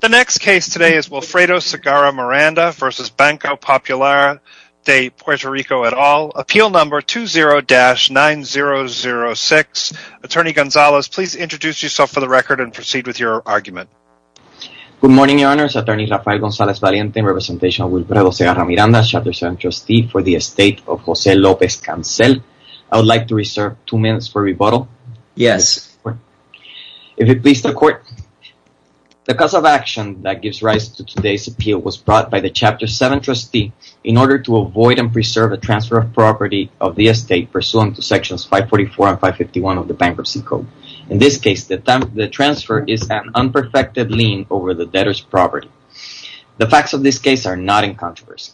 The next case today is Wilfredo Segarra Miranda versus Banco Popular de Puerto Rico et al. Appeal number 20-9006. Attorney Gonzalez, please introduce yourself for the record and proceed with your argument. Good morning, your honors. Attorney Rafael Gonzalez Valiente, representation of Wilfredo Segarra Miranda, chapter 7 trustee for the estate of José López Cancel. I would like to reserve two minutes for rebuttal. Yes. If it pleases the court, the cause of action that gives rise to today's appeal was brought by the chapter 7 trustee in order to avoid and preserve a transfer of property of the estate pursuant to sections 544 and 551 of the Bankruptcy Code. In this case, the transfer is an unperfected lien over the debtor's property. The facts of this case are not in controversy.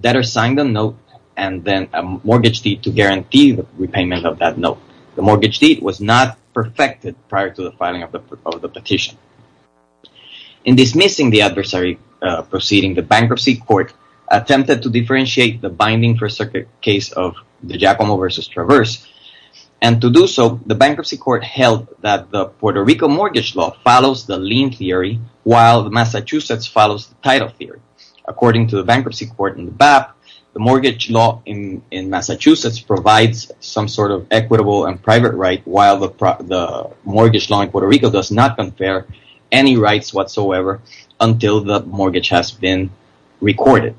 Debtor signed a note and then a mortgage deed to guarantee the repayment of that note. The mortgage deed was not perfected prior to the filing of the petition. In dismissing the adversary proceeding, the bankruptcy court attempted to differentiate the binding first circuit case of the Giacomo versus Traverse, and to do so, the bankruptcy court held that the Puerto Rico mortgage law follows the lien theory while Massachusetts follows the title theory. According to the bankruptcy court in the BAP, the mortgage law in Massachusetts provides some sort of equitable and private right while the mortgage law in Puerto Rico does not compare any rights whatsoever until the mortgage has been recorded,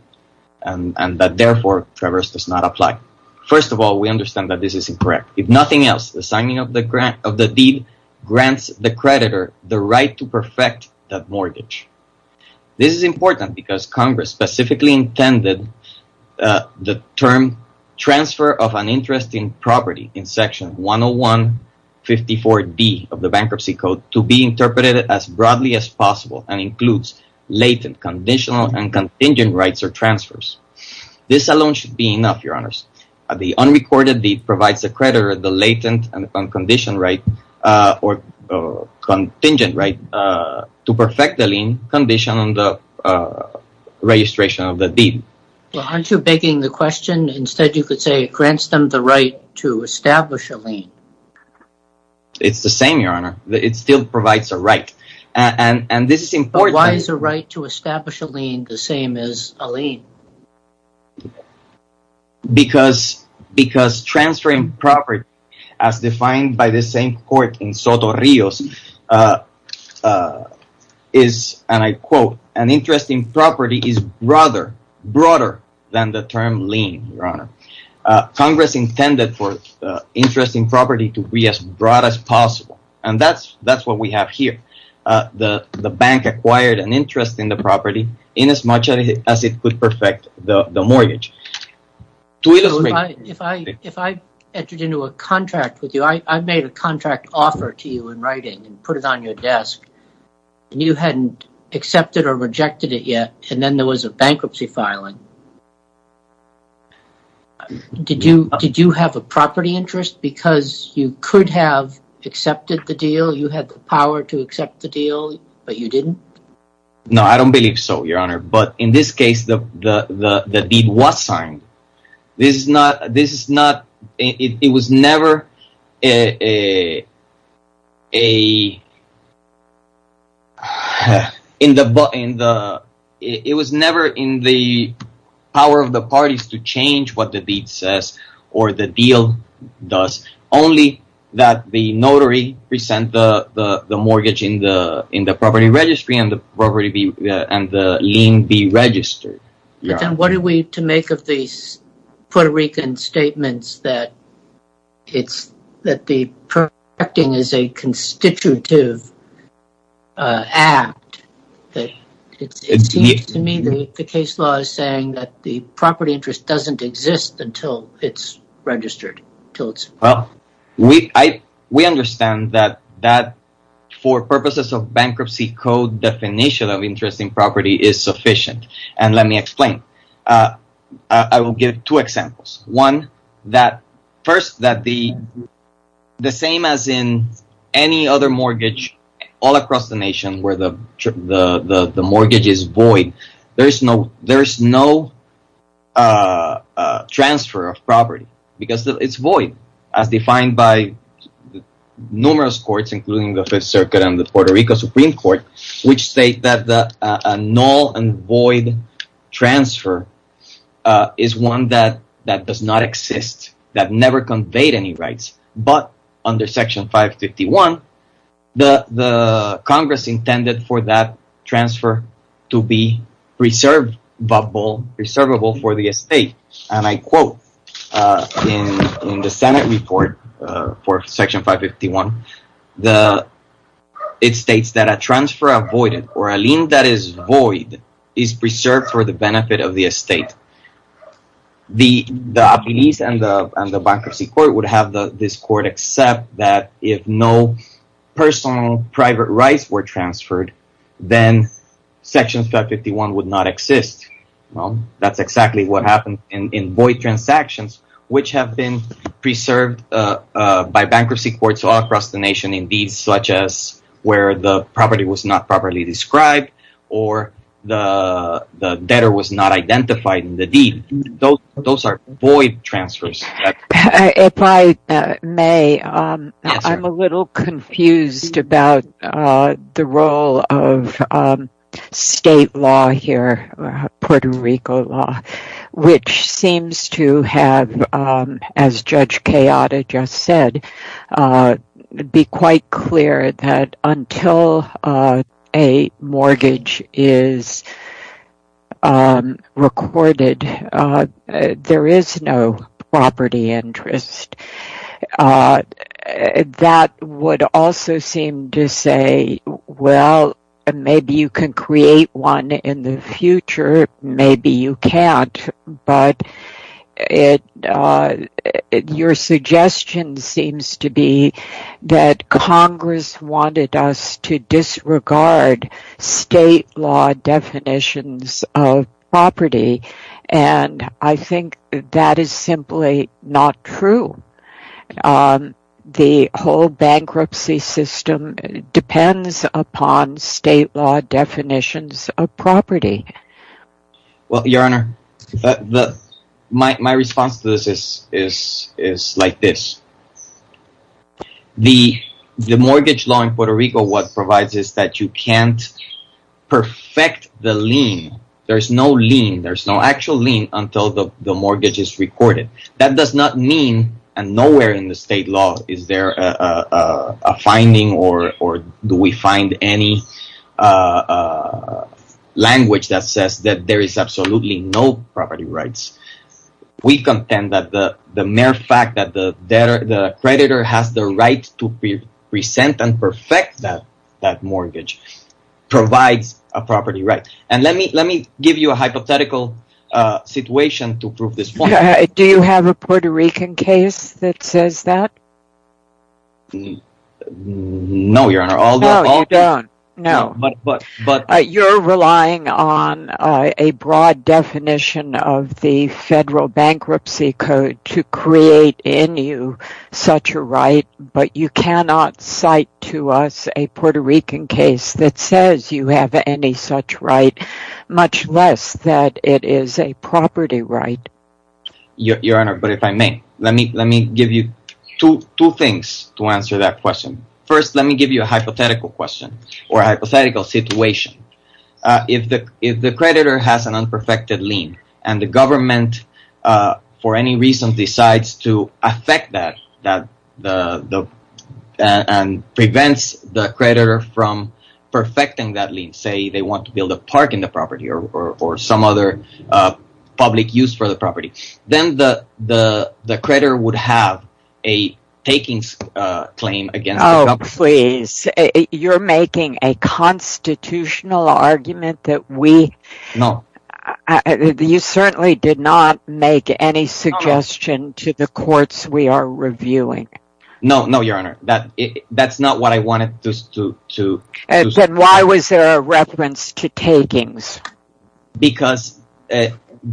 and that, therefore, Traverse does not apply. First of all, we understand that this is incorrect. If nothing else, the signing of the deed grants the creditor the right to perfect that mortgage. This is important because Congress specifically intended the term transfer of an interest property in section 101.54d of the bankruptcy code to be interpreted as broadly as possible and includes latent, conditional, and contingent rights or transfers. This alone should be enough, Your Honors. The unrecorded deed provides the creditor the latent and contingent right to perfect the mortgage law in the state of Puerto Rico. Transferring property as defined by the same court in Soto Rios is, and I quote, an interest in property is broader than the term lien, Your Honor. Congress intended for interest in property to be as broad as possible, and that is what we have here. The bank acquired an interest in the property in as much as it could perfect the mortgage. If I entered into a contract with you, I made a contract offer to you in writing and put it on your desk, and you hadn't accepted or rejected it yet, and then there was a bankruptcy filing, did you have a property interest because you could have accepted the deal? You had the power to accept the deal, but you didn't? No, I don't believe so, Your Honor. In this case, the deed was signed. It was never in the power of the parties to change what the deed says or the deal does, only that the notary present the mortgage in the property registry and the lien be registered. What are we to make of these Puerto Rican statements that the perfecting is a constitutive act? It seems to me that the case law is saying that the property interest doesn't exist until it's registered. We understand that for purposes of bankruptcy code, the definition of interest in property is sufficient, and let me explain. I will give two examples. One, first, the same as in any other mortgage all across the nation where the mortgage is because it's void, as defined by numerous courts, including the Fifth Circuit and the Puerto Rico Supreme Court, which state that a null and void transfer is one that does not exist, that never conveyed any rights, but under Section 551, the Congress intended for that transfer to be preservable for the estate. And I quote in the Senate report for Section 551, it states that a transfer avoided or a lien that is void is preserved for the benefit of the estate. The appease and the bankruptcy court would have this court accept that if no personal private rights were transferred, then Section 551 would not exist. Well, that's exactly what happened in void transactions, which have been preserved by bankruptcy courts all across the nation in deeds such as where the property was not properly described or the debtor was not identified in the deed. Those are void transfers. If I may, I'm a little confused about the role of state law here, Puerto Rico law, which seems to have, as Judge Kayada just said, be quite clear that until a mortgage is recorded, there is no property interest. That would also seem to say, well, maybe you can create one in the future, maybe you can't. But your suggestion seems to be that Congress wanted us to disregard state law definitions of property, and I think that is simply not true. The whole bankruptcy system depends upon state law definitions of property. Well, Your Honor, my response to this is like this. The mortgage law in Puerto Rico what provides is that you can't perfect the lien. There's no lien. There's no actual lien until the mortgage is recorded. That does not mean and nowhere in the state law is there a finding or do we find any language that says that there is absolutely no property rights. We contend that the mere fact that the creditor has the right to present and perfect that mortgage provides a property right. Let me give you a hypothetical situation to prove this point. Do you have a Puerto Rican case that says that? No, Your Honor. No, you don't. No, but you're relying on a broad definition of the federal bankruptcy code to create in you such a right, but you cannot cite to us a Puerto Rican case that says you have any such right, much less that it is a property right. Your Honor, but if I may, let me give you two things to answer that question. First, let me give you a hypothetical question or hypothetical situation. If the creditor has an unperfected lien and the government for any reason decides to affect that and prevents the creditor from perfecting that lien, say they want to build a park in the property or some other public use for the property, then the creditor would have a takings claim against the company. Oh, please. You're making a constitutional argument that we... No. You certainly did not make any suggestion to the courts we are reviewing. No, no, Your Honor. That's not what I wanted to... Then why was there a reference to takings? Because if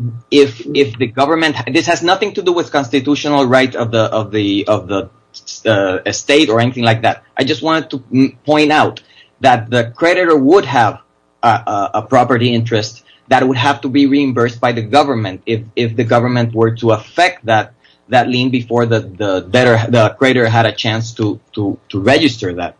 the government... This has nothing to do with constitutional right of the state or anything like that. I just wanted to point out that the creditor would have a property interest that would have to be reimbursed by the government if the government were to affect that lien before the creditor had a chance to register that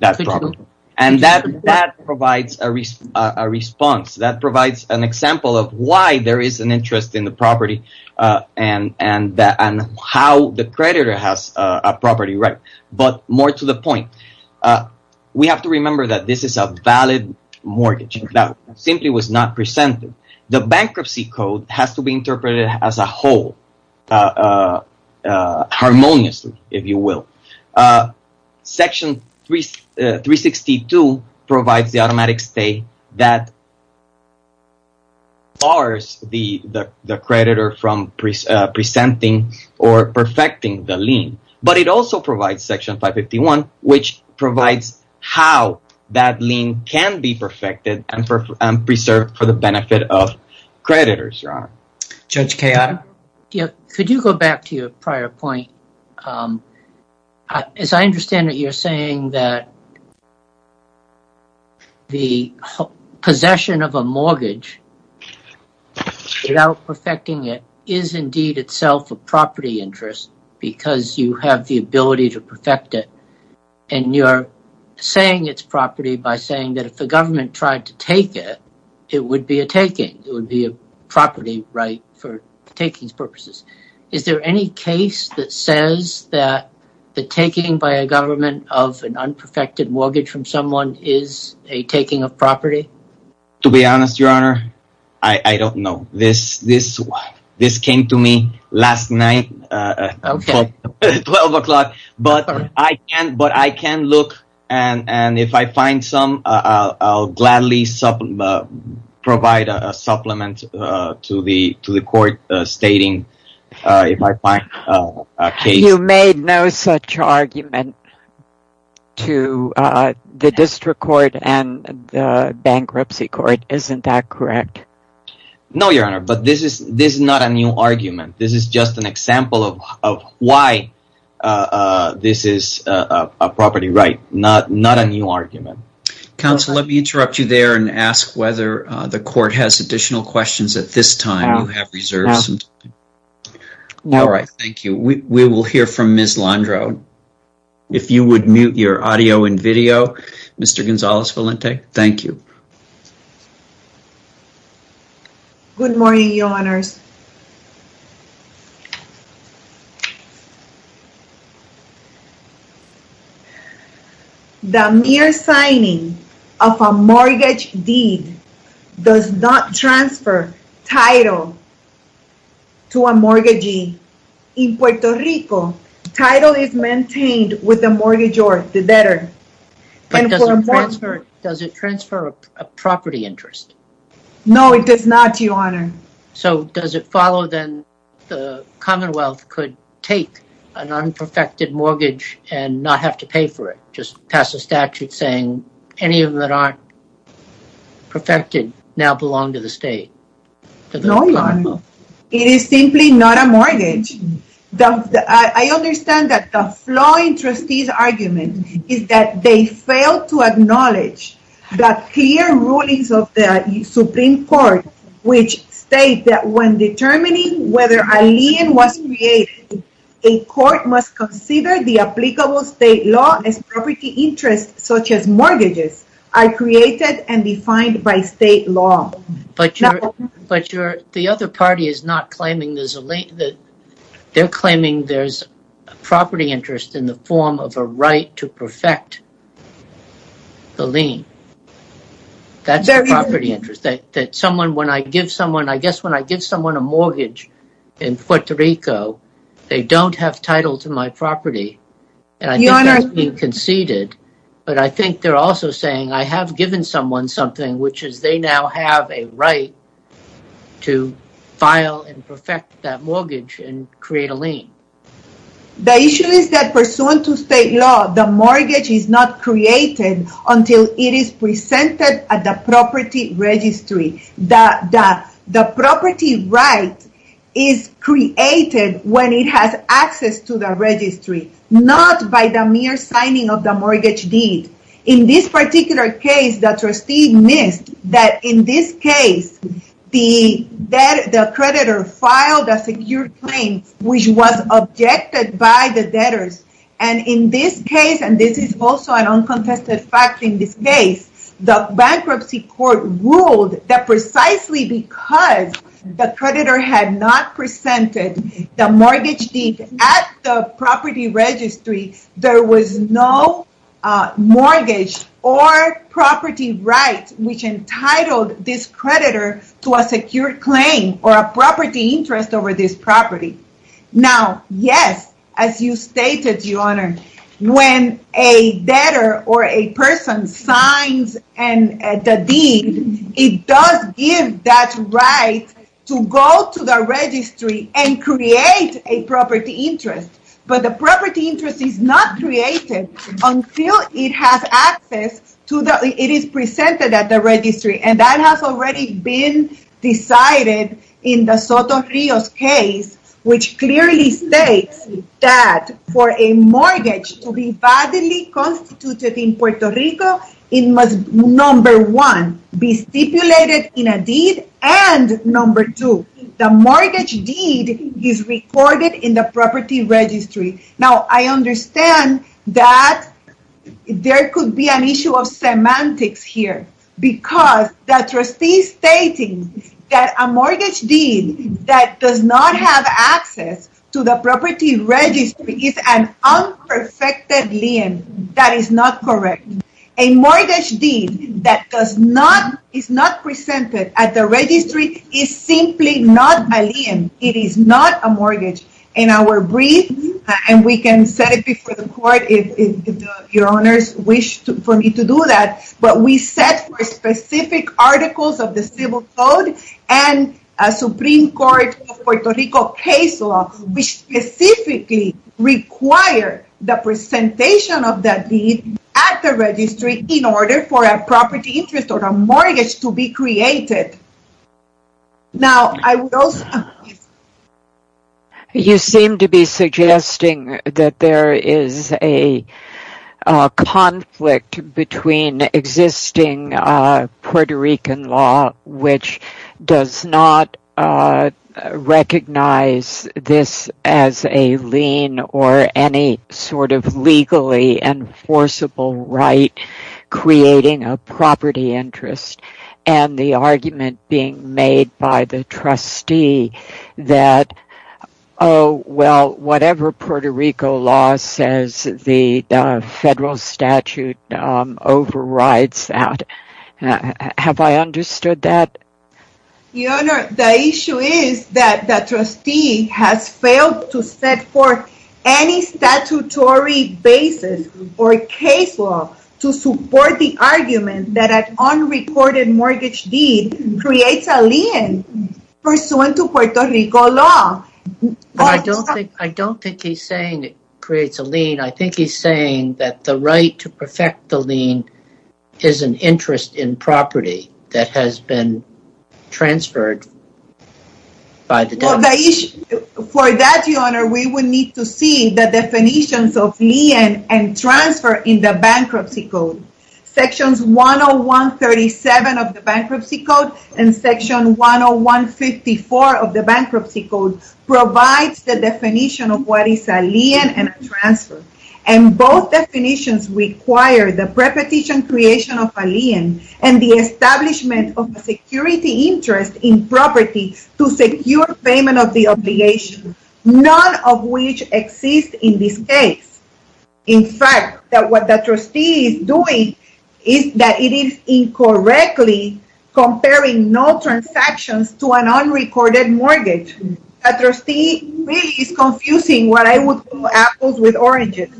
property. And that provides a response, that provides an example of why there is an interest in the property and how the creditor has a property right. But more to the point, we have to remember that this is a valid mortgage that simply was not presented. The bankruptcy code has to be interpreted as a whole, harmoniously, if you will. Section 362 provides the automatic stay that bars the creditor from presenting or perfecting the lien. But it also provides Section 551, which provides how that lien can be perfected and preserved for the benefit of creditors, Your Honor. Judge Kayada? Could you go back to your prior point? As I understand it, you're saying that the possession of a mortgage without perfecting it is indeed itself a property interest because you have the ability to perfect it. And you're saying it's property by saying that if the government tried to take it, it would be a taking. It would be a property right for takings purposes. Is there any case that says that the taking by a government of an unperfected mortgage from someone is a taking of property? To be honest, Your Honor, I don't know. This came to me last night at 12 o'clock. But I can look, and if I find some, I'll gladly provide a supplement to the court stating if I find a case. You made no such argument to the District Court and the Bankruptcy Court. Isn't that correct? No, Your Honor. But this is not a new argument. This is just an example of why this is a property right, not a new argument. Counsel, let me interrupt you there and ask whether the court has additional questions at this time. You have reserved some time. All right. Thank you. We will hear from Ms. Landro. If you would mute your audio and video, Mr. Gonzalez-Valente, thank you. Good morning, Your Honors. Good morning. The mere signing of a mortgage deed does not transfer title to a mortgagee. In Puerto Rico, title is maintained with the mortgagee or the debtor. Does it transfer a property interest? No, it does not, Your Honor. So does it follow then the Commonwealth could take an unperfected mortgage and not have to pay for it? Just pass a statute saying any of them that aren't perfected now belong to the state? No, Your Honor. It is simply not a mortgage. I understand that the flaw in trustee's argument is that they failed to acknowledge that clear rulings of the Supreme Court, which state that when determining whether a lien was created, a court must consider the applicable state law as property interest, such as mortgages are created and defined by state law. But the other party is not claiming there's a lien. They're claiming there's property interest in the form of a right to perfect the lien. That's a property interest. That someone, when I give someone, I guess when I give someone a mortgage in Puerto Rico, they don't have title to my property. And I think that's being conceded. But I think they're also saying I have given someone something, which is they now have a The issue is that pursuant to state law, the mortgage is not created until it is presented at the property registry. That the property right is created when it has access to the registry, not by the mere signing of the mortgage deed. In this particular case, the trustee missed that in this case, the creditor filed a secure which was objected by the debtors. And in this case, and this is also an uncontested fact in this case, the bankruptcy court ruled that precisely because the creditor had not presented the mortgage deed at the property registry, there was no mortgage or property right which entitled this creditor to a secure claim or a property interest over this property. Now, yes, as you stated, your honor, when a debtor or a person signs and the deed, it does give that right to go to the registry and create a property interest. But the property interest is not created until it has access to the it is presented at the registry. And that has already been decided in the Soto Rios case, which clearly states that for a mortgage to be validly constituted in Puerto Rico, it must number one, be stipulated in a deed. And number two, the mortgage deed is recorded in the property registry. Now, I understand that there could be an issue of semantics here because the trustee stating that a mortgage deed that does not have access to the property registry is an unperfected lien. That is not correct. A mortgage deed that does not is not presented at the registry is simply not a lien. It is not a mortgage. In our brief, and we can set it before the court if your honors wish for me to do that. But we set for specific articles of the civil code and a Supreme Court of Puerto Rico case law, which specifically require the presentation of that deed at the registry in order for a property interest or a mortgage to be created. Now, I will say. You seem to be suggesting that there is a conflict between existing Puerto Rican law, which does not recognize this as a lien or any sort of legally enforceable right creating a property interest. And the argument being made by the trustee that, oh, well, whatever Puerto Rico law says, the federal statute overrides that. Have I understood that? Your honor, the issue is that the trustee has failed to set forth any statutory basis or case law to support the argument that an unrecorded mortgage deed creates a lien pursuant to Puerto Rico law. I don't think he's saying it creates a lien. I think he's saying that the right to perfect the lien is an interest in property that has been transferred. Well, for that, your honor, we will need to see the definitions of lien and transfer in the bankruptcy code. Sections 101.37 of the bankruptcy code and section 101.54 of the bankruptcy code provides the definition of what is a lien and a transfer. And both definitions require the prepetition creation of a lien and the establishment of property to secure payment of the obligation, none of which exist in this case. In fact, what the trustee is doing is that it is incorrectly comparing no transactions to an unrecorded mortgage. A trustee really is confusing what I would call apples with oranges.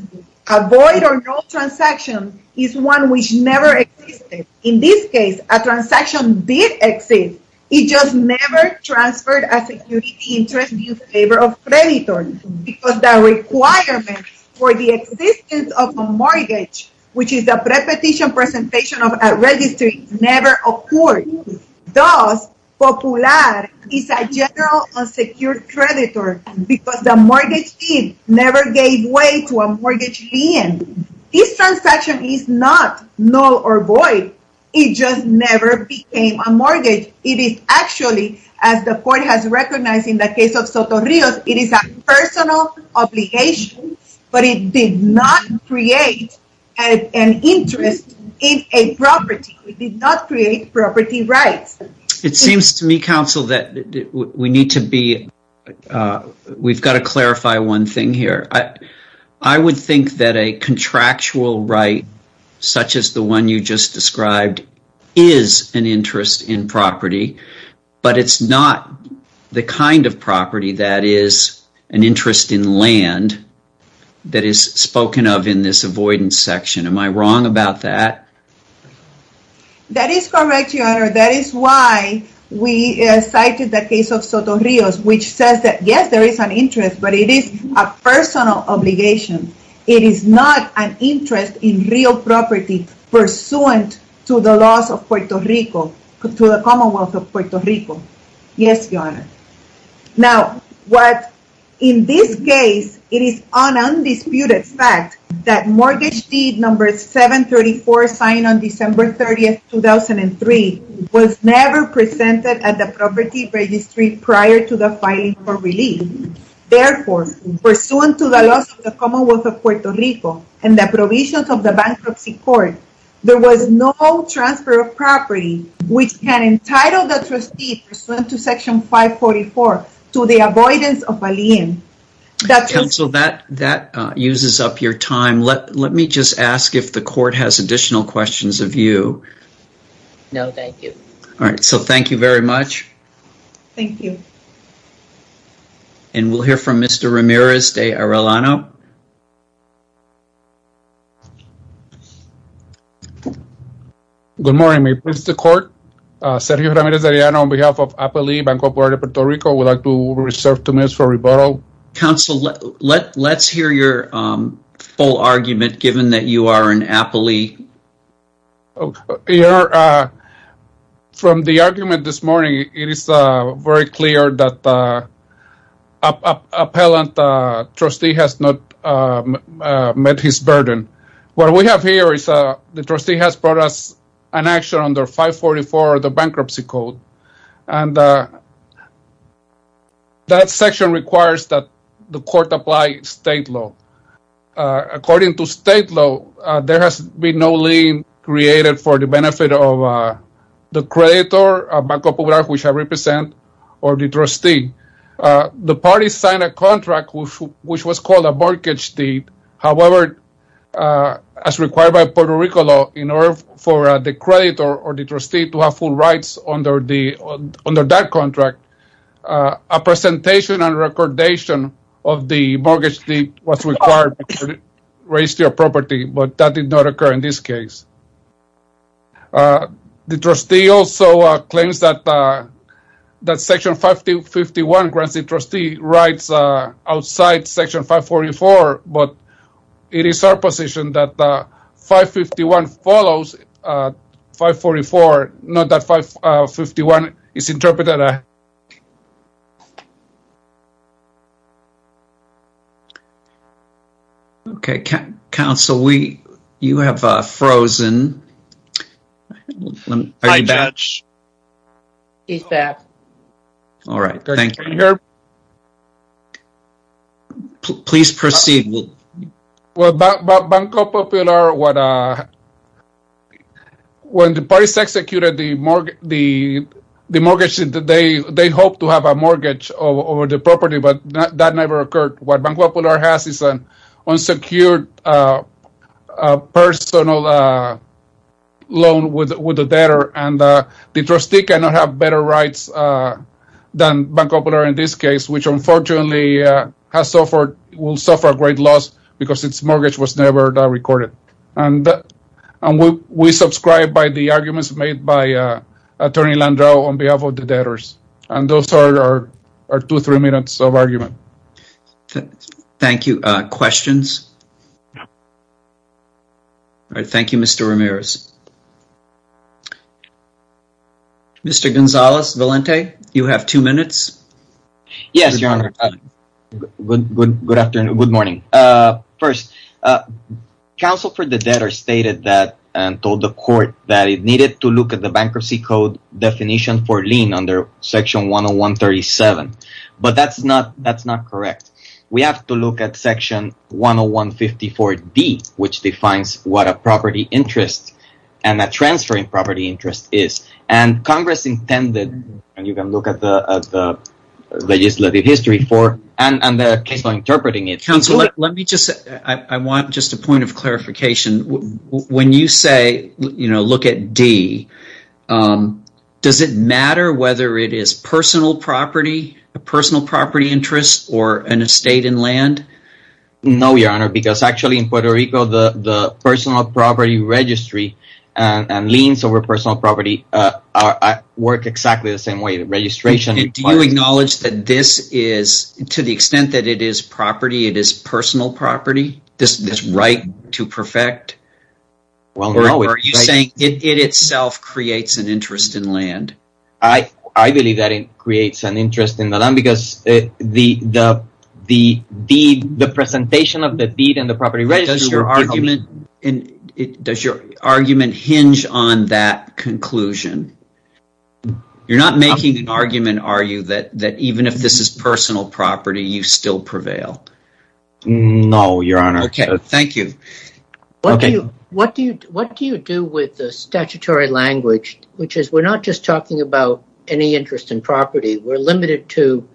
A void or no transaction is one which never existed. In this case, a transaction did exist. It just never transferred a security interest in favor of creditor because the requirement for the existence of a mortgage, which is a prepetition presentation of a registry, never occurred. Thus, popular is a general unsecured creditor because the mortgage deed never gave way to a mortgage lien. This transaction is not null or void. It just never became a mortgage. Actually, as the court has recognized in the case of Soto Rios, it is a personal obligation, but it did not create an interest in a property. It did not create property rights. It seems to me, counsel, that we need to be, we've got to clarify one thing here. I would think that a contractual right, such as the one you just described, is an interest in property, but it's not the kind of property that is an interest in land that is spoken of in this avoidance section. Am I wrong about that? That is correct, your honor. That is why we cited the case of Soto Rios, which says that, yes, there is an interest, but it is a personal obligation. It is not an interest in real property pursuant to the laws of Puerto Rico, to the Commonwealth of Puerto Rico. Yes, your honor. Now, what in this case, it is an undisputed fact that mortgage deed number 734, signed on December 30th, 2003, was never presented at the property registry prior to the filing for relief. Therefore, pursuant to the laws of the Commonwealth of Puerto Rico and the provisions of the bankruptcy court, there was no transfer of property, which can entitle the trustee pursuant to section 544, to the avoidance of a lien. Counsel, that uses up your time. Let me just ask if the court has additional questions of you. No, thank you. All right, so thank you very much. Thank you. And we'll hear from Mr. Ramirez de Arellano. Good morning, Mr. Court. Sergio Ramirez de Arellano on behalf of Appalee Bank of Puerto Rico. Would like to reserve two minutes for rebuttal. Counsel, let's hear your full argument, given that you are in Appalee. From the argument this morning, it is very clear that the appellant trustee has not met his burden. What we have here is the trustee has brought us an action under 544, the bankruptcy code. And that section requires that the court apply state law. According to state law, there has been no lien created for the benefit of the creditor, Banco Poblado, which I represent, or the trustee. The party signed a contract which was called a mortgage deed. However, as required by Puerto Rico law, in order for the creditor or the trustee to have full rights under that contract, a presentation and recordation of the mortgage deed was required to raise your property. But that did not occur in this case. The trustee also claims that section 551 grants the trustee rights outside section 544. But it is our position that 551 follows 544, not that 551 is interpreted. Okay, counsel, you have frozen. Hi, Judge. He's back. All right, thank you. Please proceed. Well, Banco Popular, when the parties executed the mortgage, they hoped to have a mortgage over the property, but that never occurred. What Banco Popular has is an unsecured personal loan with the debtor, and the trustee cannot have better rights than Banco Popular in this case, which unfortunately will suffer a great loss because its mortgage was never recorded. And we subscribe by the arguments made by Attorney Landreau on behalf of the debtors. And those are two, three minutes of argument. Thank you. Questions? All right. Thank you, Mr. Ramirez. Mr. Gonzalez Valente, you have two minutes. Yes, Your Honor. Good afternoon. Good morning. First, counsel for the debtor stated that and told the court that it needed to look at the bankruptcy code definition for lien under section 101-37. But that's not correct. We have to look at section 101-54-D, which defines what a property interest and a transferring property interest is. And Congress intended, and you can look at the legislative history for and the case law interpreting it. Counsel, let me just, I want just a point of clarification. When you say, you know, look at D, does it matter whether it is personal property, a state, and land? No, Your Honor, because actually in Puerto Rico, the personal property registry and liens over personal property work exactly the same way. The registration. Do you acknowledge that this is, to the extent that it is property, it is personal property, this right to perfect? Well, no. Are you saying it itself creates an interest in land? I believe that it creates an interest in the land because the presentation of the deed and the property registry. Does your argument hinge on that conclusion? You're not making an argument, are you, that even if this is personal property, you still prevail? No, Your Honor. Okay, thank you. What do you do with the statutory language, which is we're not just talking about any interest in property. We're limited to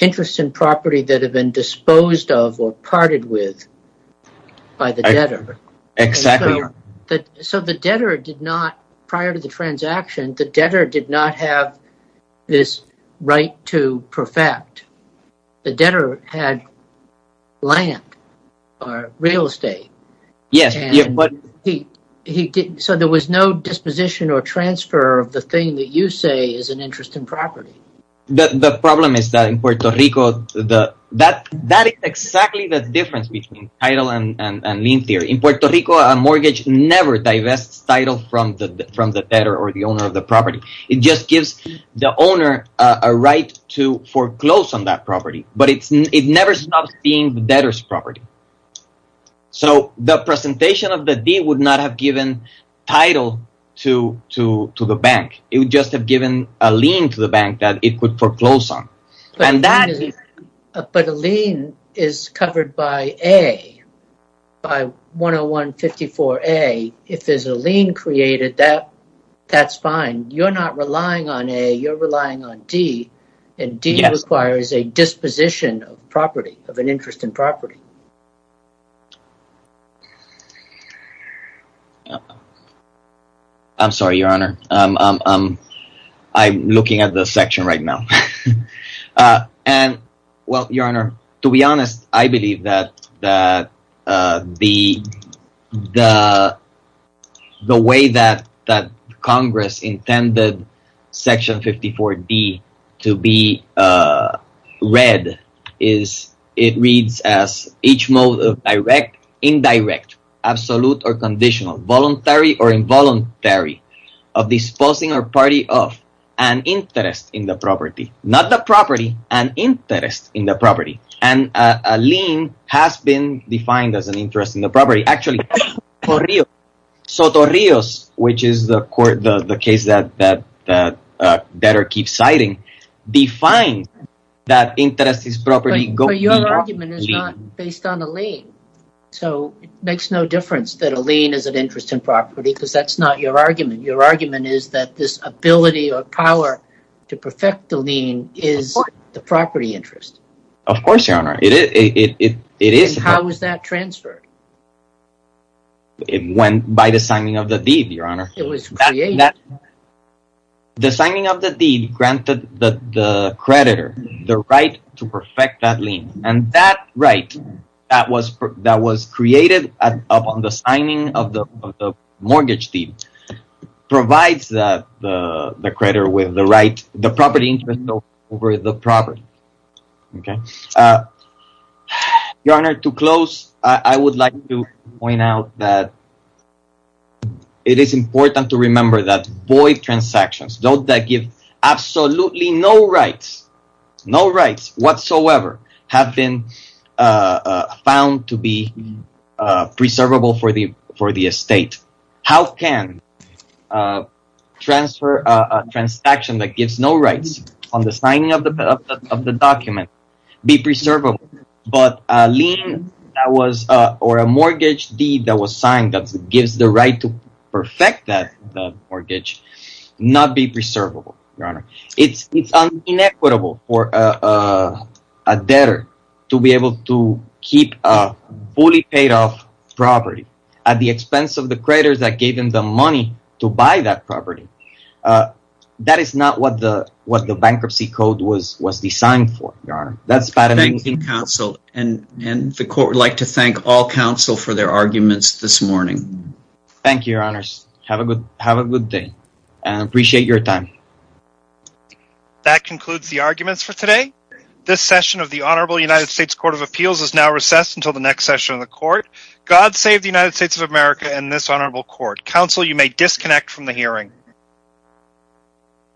interest in property that have been disposed of or parted with by the debtor. So the debtor did not, prior to the transaction, the debtor did not have this right to perfect. The debtor had land or real estate, so there was no disposition or transfer of the thing that you say is an interest in property. The problem is that in Puerto Rico, that is exactly the difference between title and lien theory. In Puerto Rico, a mortgage never divests title from the debtor or the owner of the property. It just gives the owner a right to foreclose on that property, but it never stops being the debtor's property. So the presentation of the deed would not have given title to the bank. It would just have given a lien to the bank that it could foreclose on. But a lien is covered by A, by 101-54-A. If there's a lien created, that's fine. You're not relying on A, you're relying on D, and D requires a disposition of property, of an interest in property. I'm sorry, Your Honor. I'm looking at the section right now. And well, Your Honor, to be honest, I believe that the way that Congress intended section 54-D to be read is it reads as each mode of direct, indirect, absolute or conditional, voluntary or involuntary of disposing or party of an interest in the property. Not the property, an interest in the property. And a lien has been defined as an interest in the property. Actually, Sotorrios, which is the case that the debtor keeps citing, defines that interest is property. But your argument is not based on a lien. So it makes no difference that a lien is an interest in property because that's not your argument. Your argument is that this ability or power to perfect the lien is the property interest. Of course, Your Honor, it is. How was that transferred? It went by the signing of the deed, Your Honor. It was created. The signing of the deed granted the creditor the right to perfect that lien. And that right that was created upon the signing of the mortgage deed provides the creditor with the right, the property interest over the property. Your Honor, to close, I would like to point out that it is important to remember that void transactions, those that give absolutely no rights, no rights whatsoever, have been found to be preservable for the estate. How can a transaction that gives no rights on the signing of the document be preservable but a lien or a mortgage deed that was signed that gives the right to perfect that mortgage deed? It's inequitable for a debtor to be able to keep a fully paid off property at the expense of the creditors that gave them the money to buy that property. That is not what the bankruptcy code was designed for, Your Honor. Thank you, counsel, and the court would like to thank all counsel for their arguments this morning. Thank you, Your Honors. Have a good day and appreciate your time. That concludes the arguments for today. This session of the Honorable United States Court of Appeals is now recessed until the next session of the court. God save the United States of America and this honorable court. Counsel, you may disconnect from the hearing.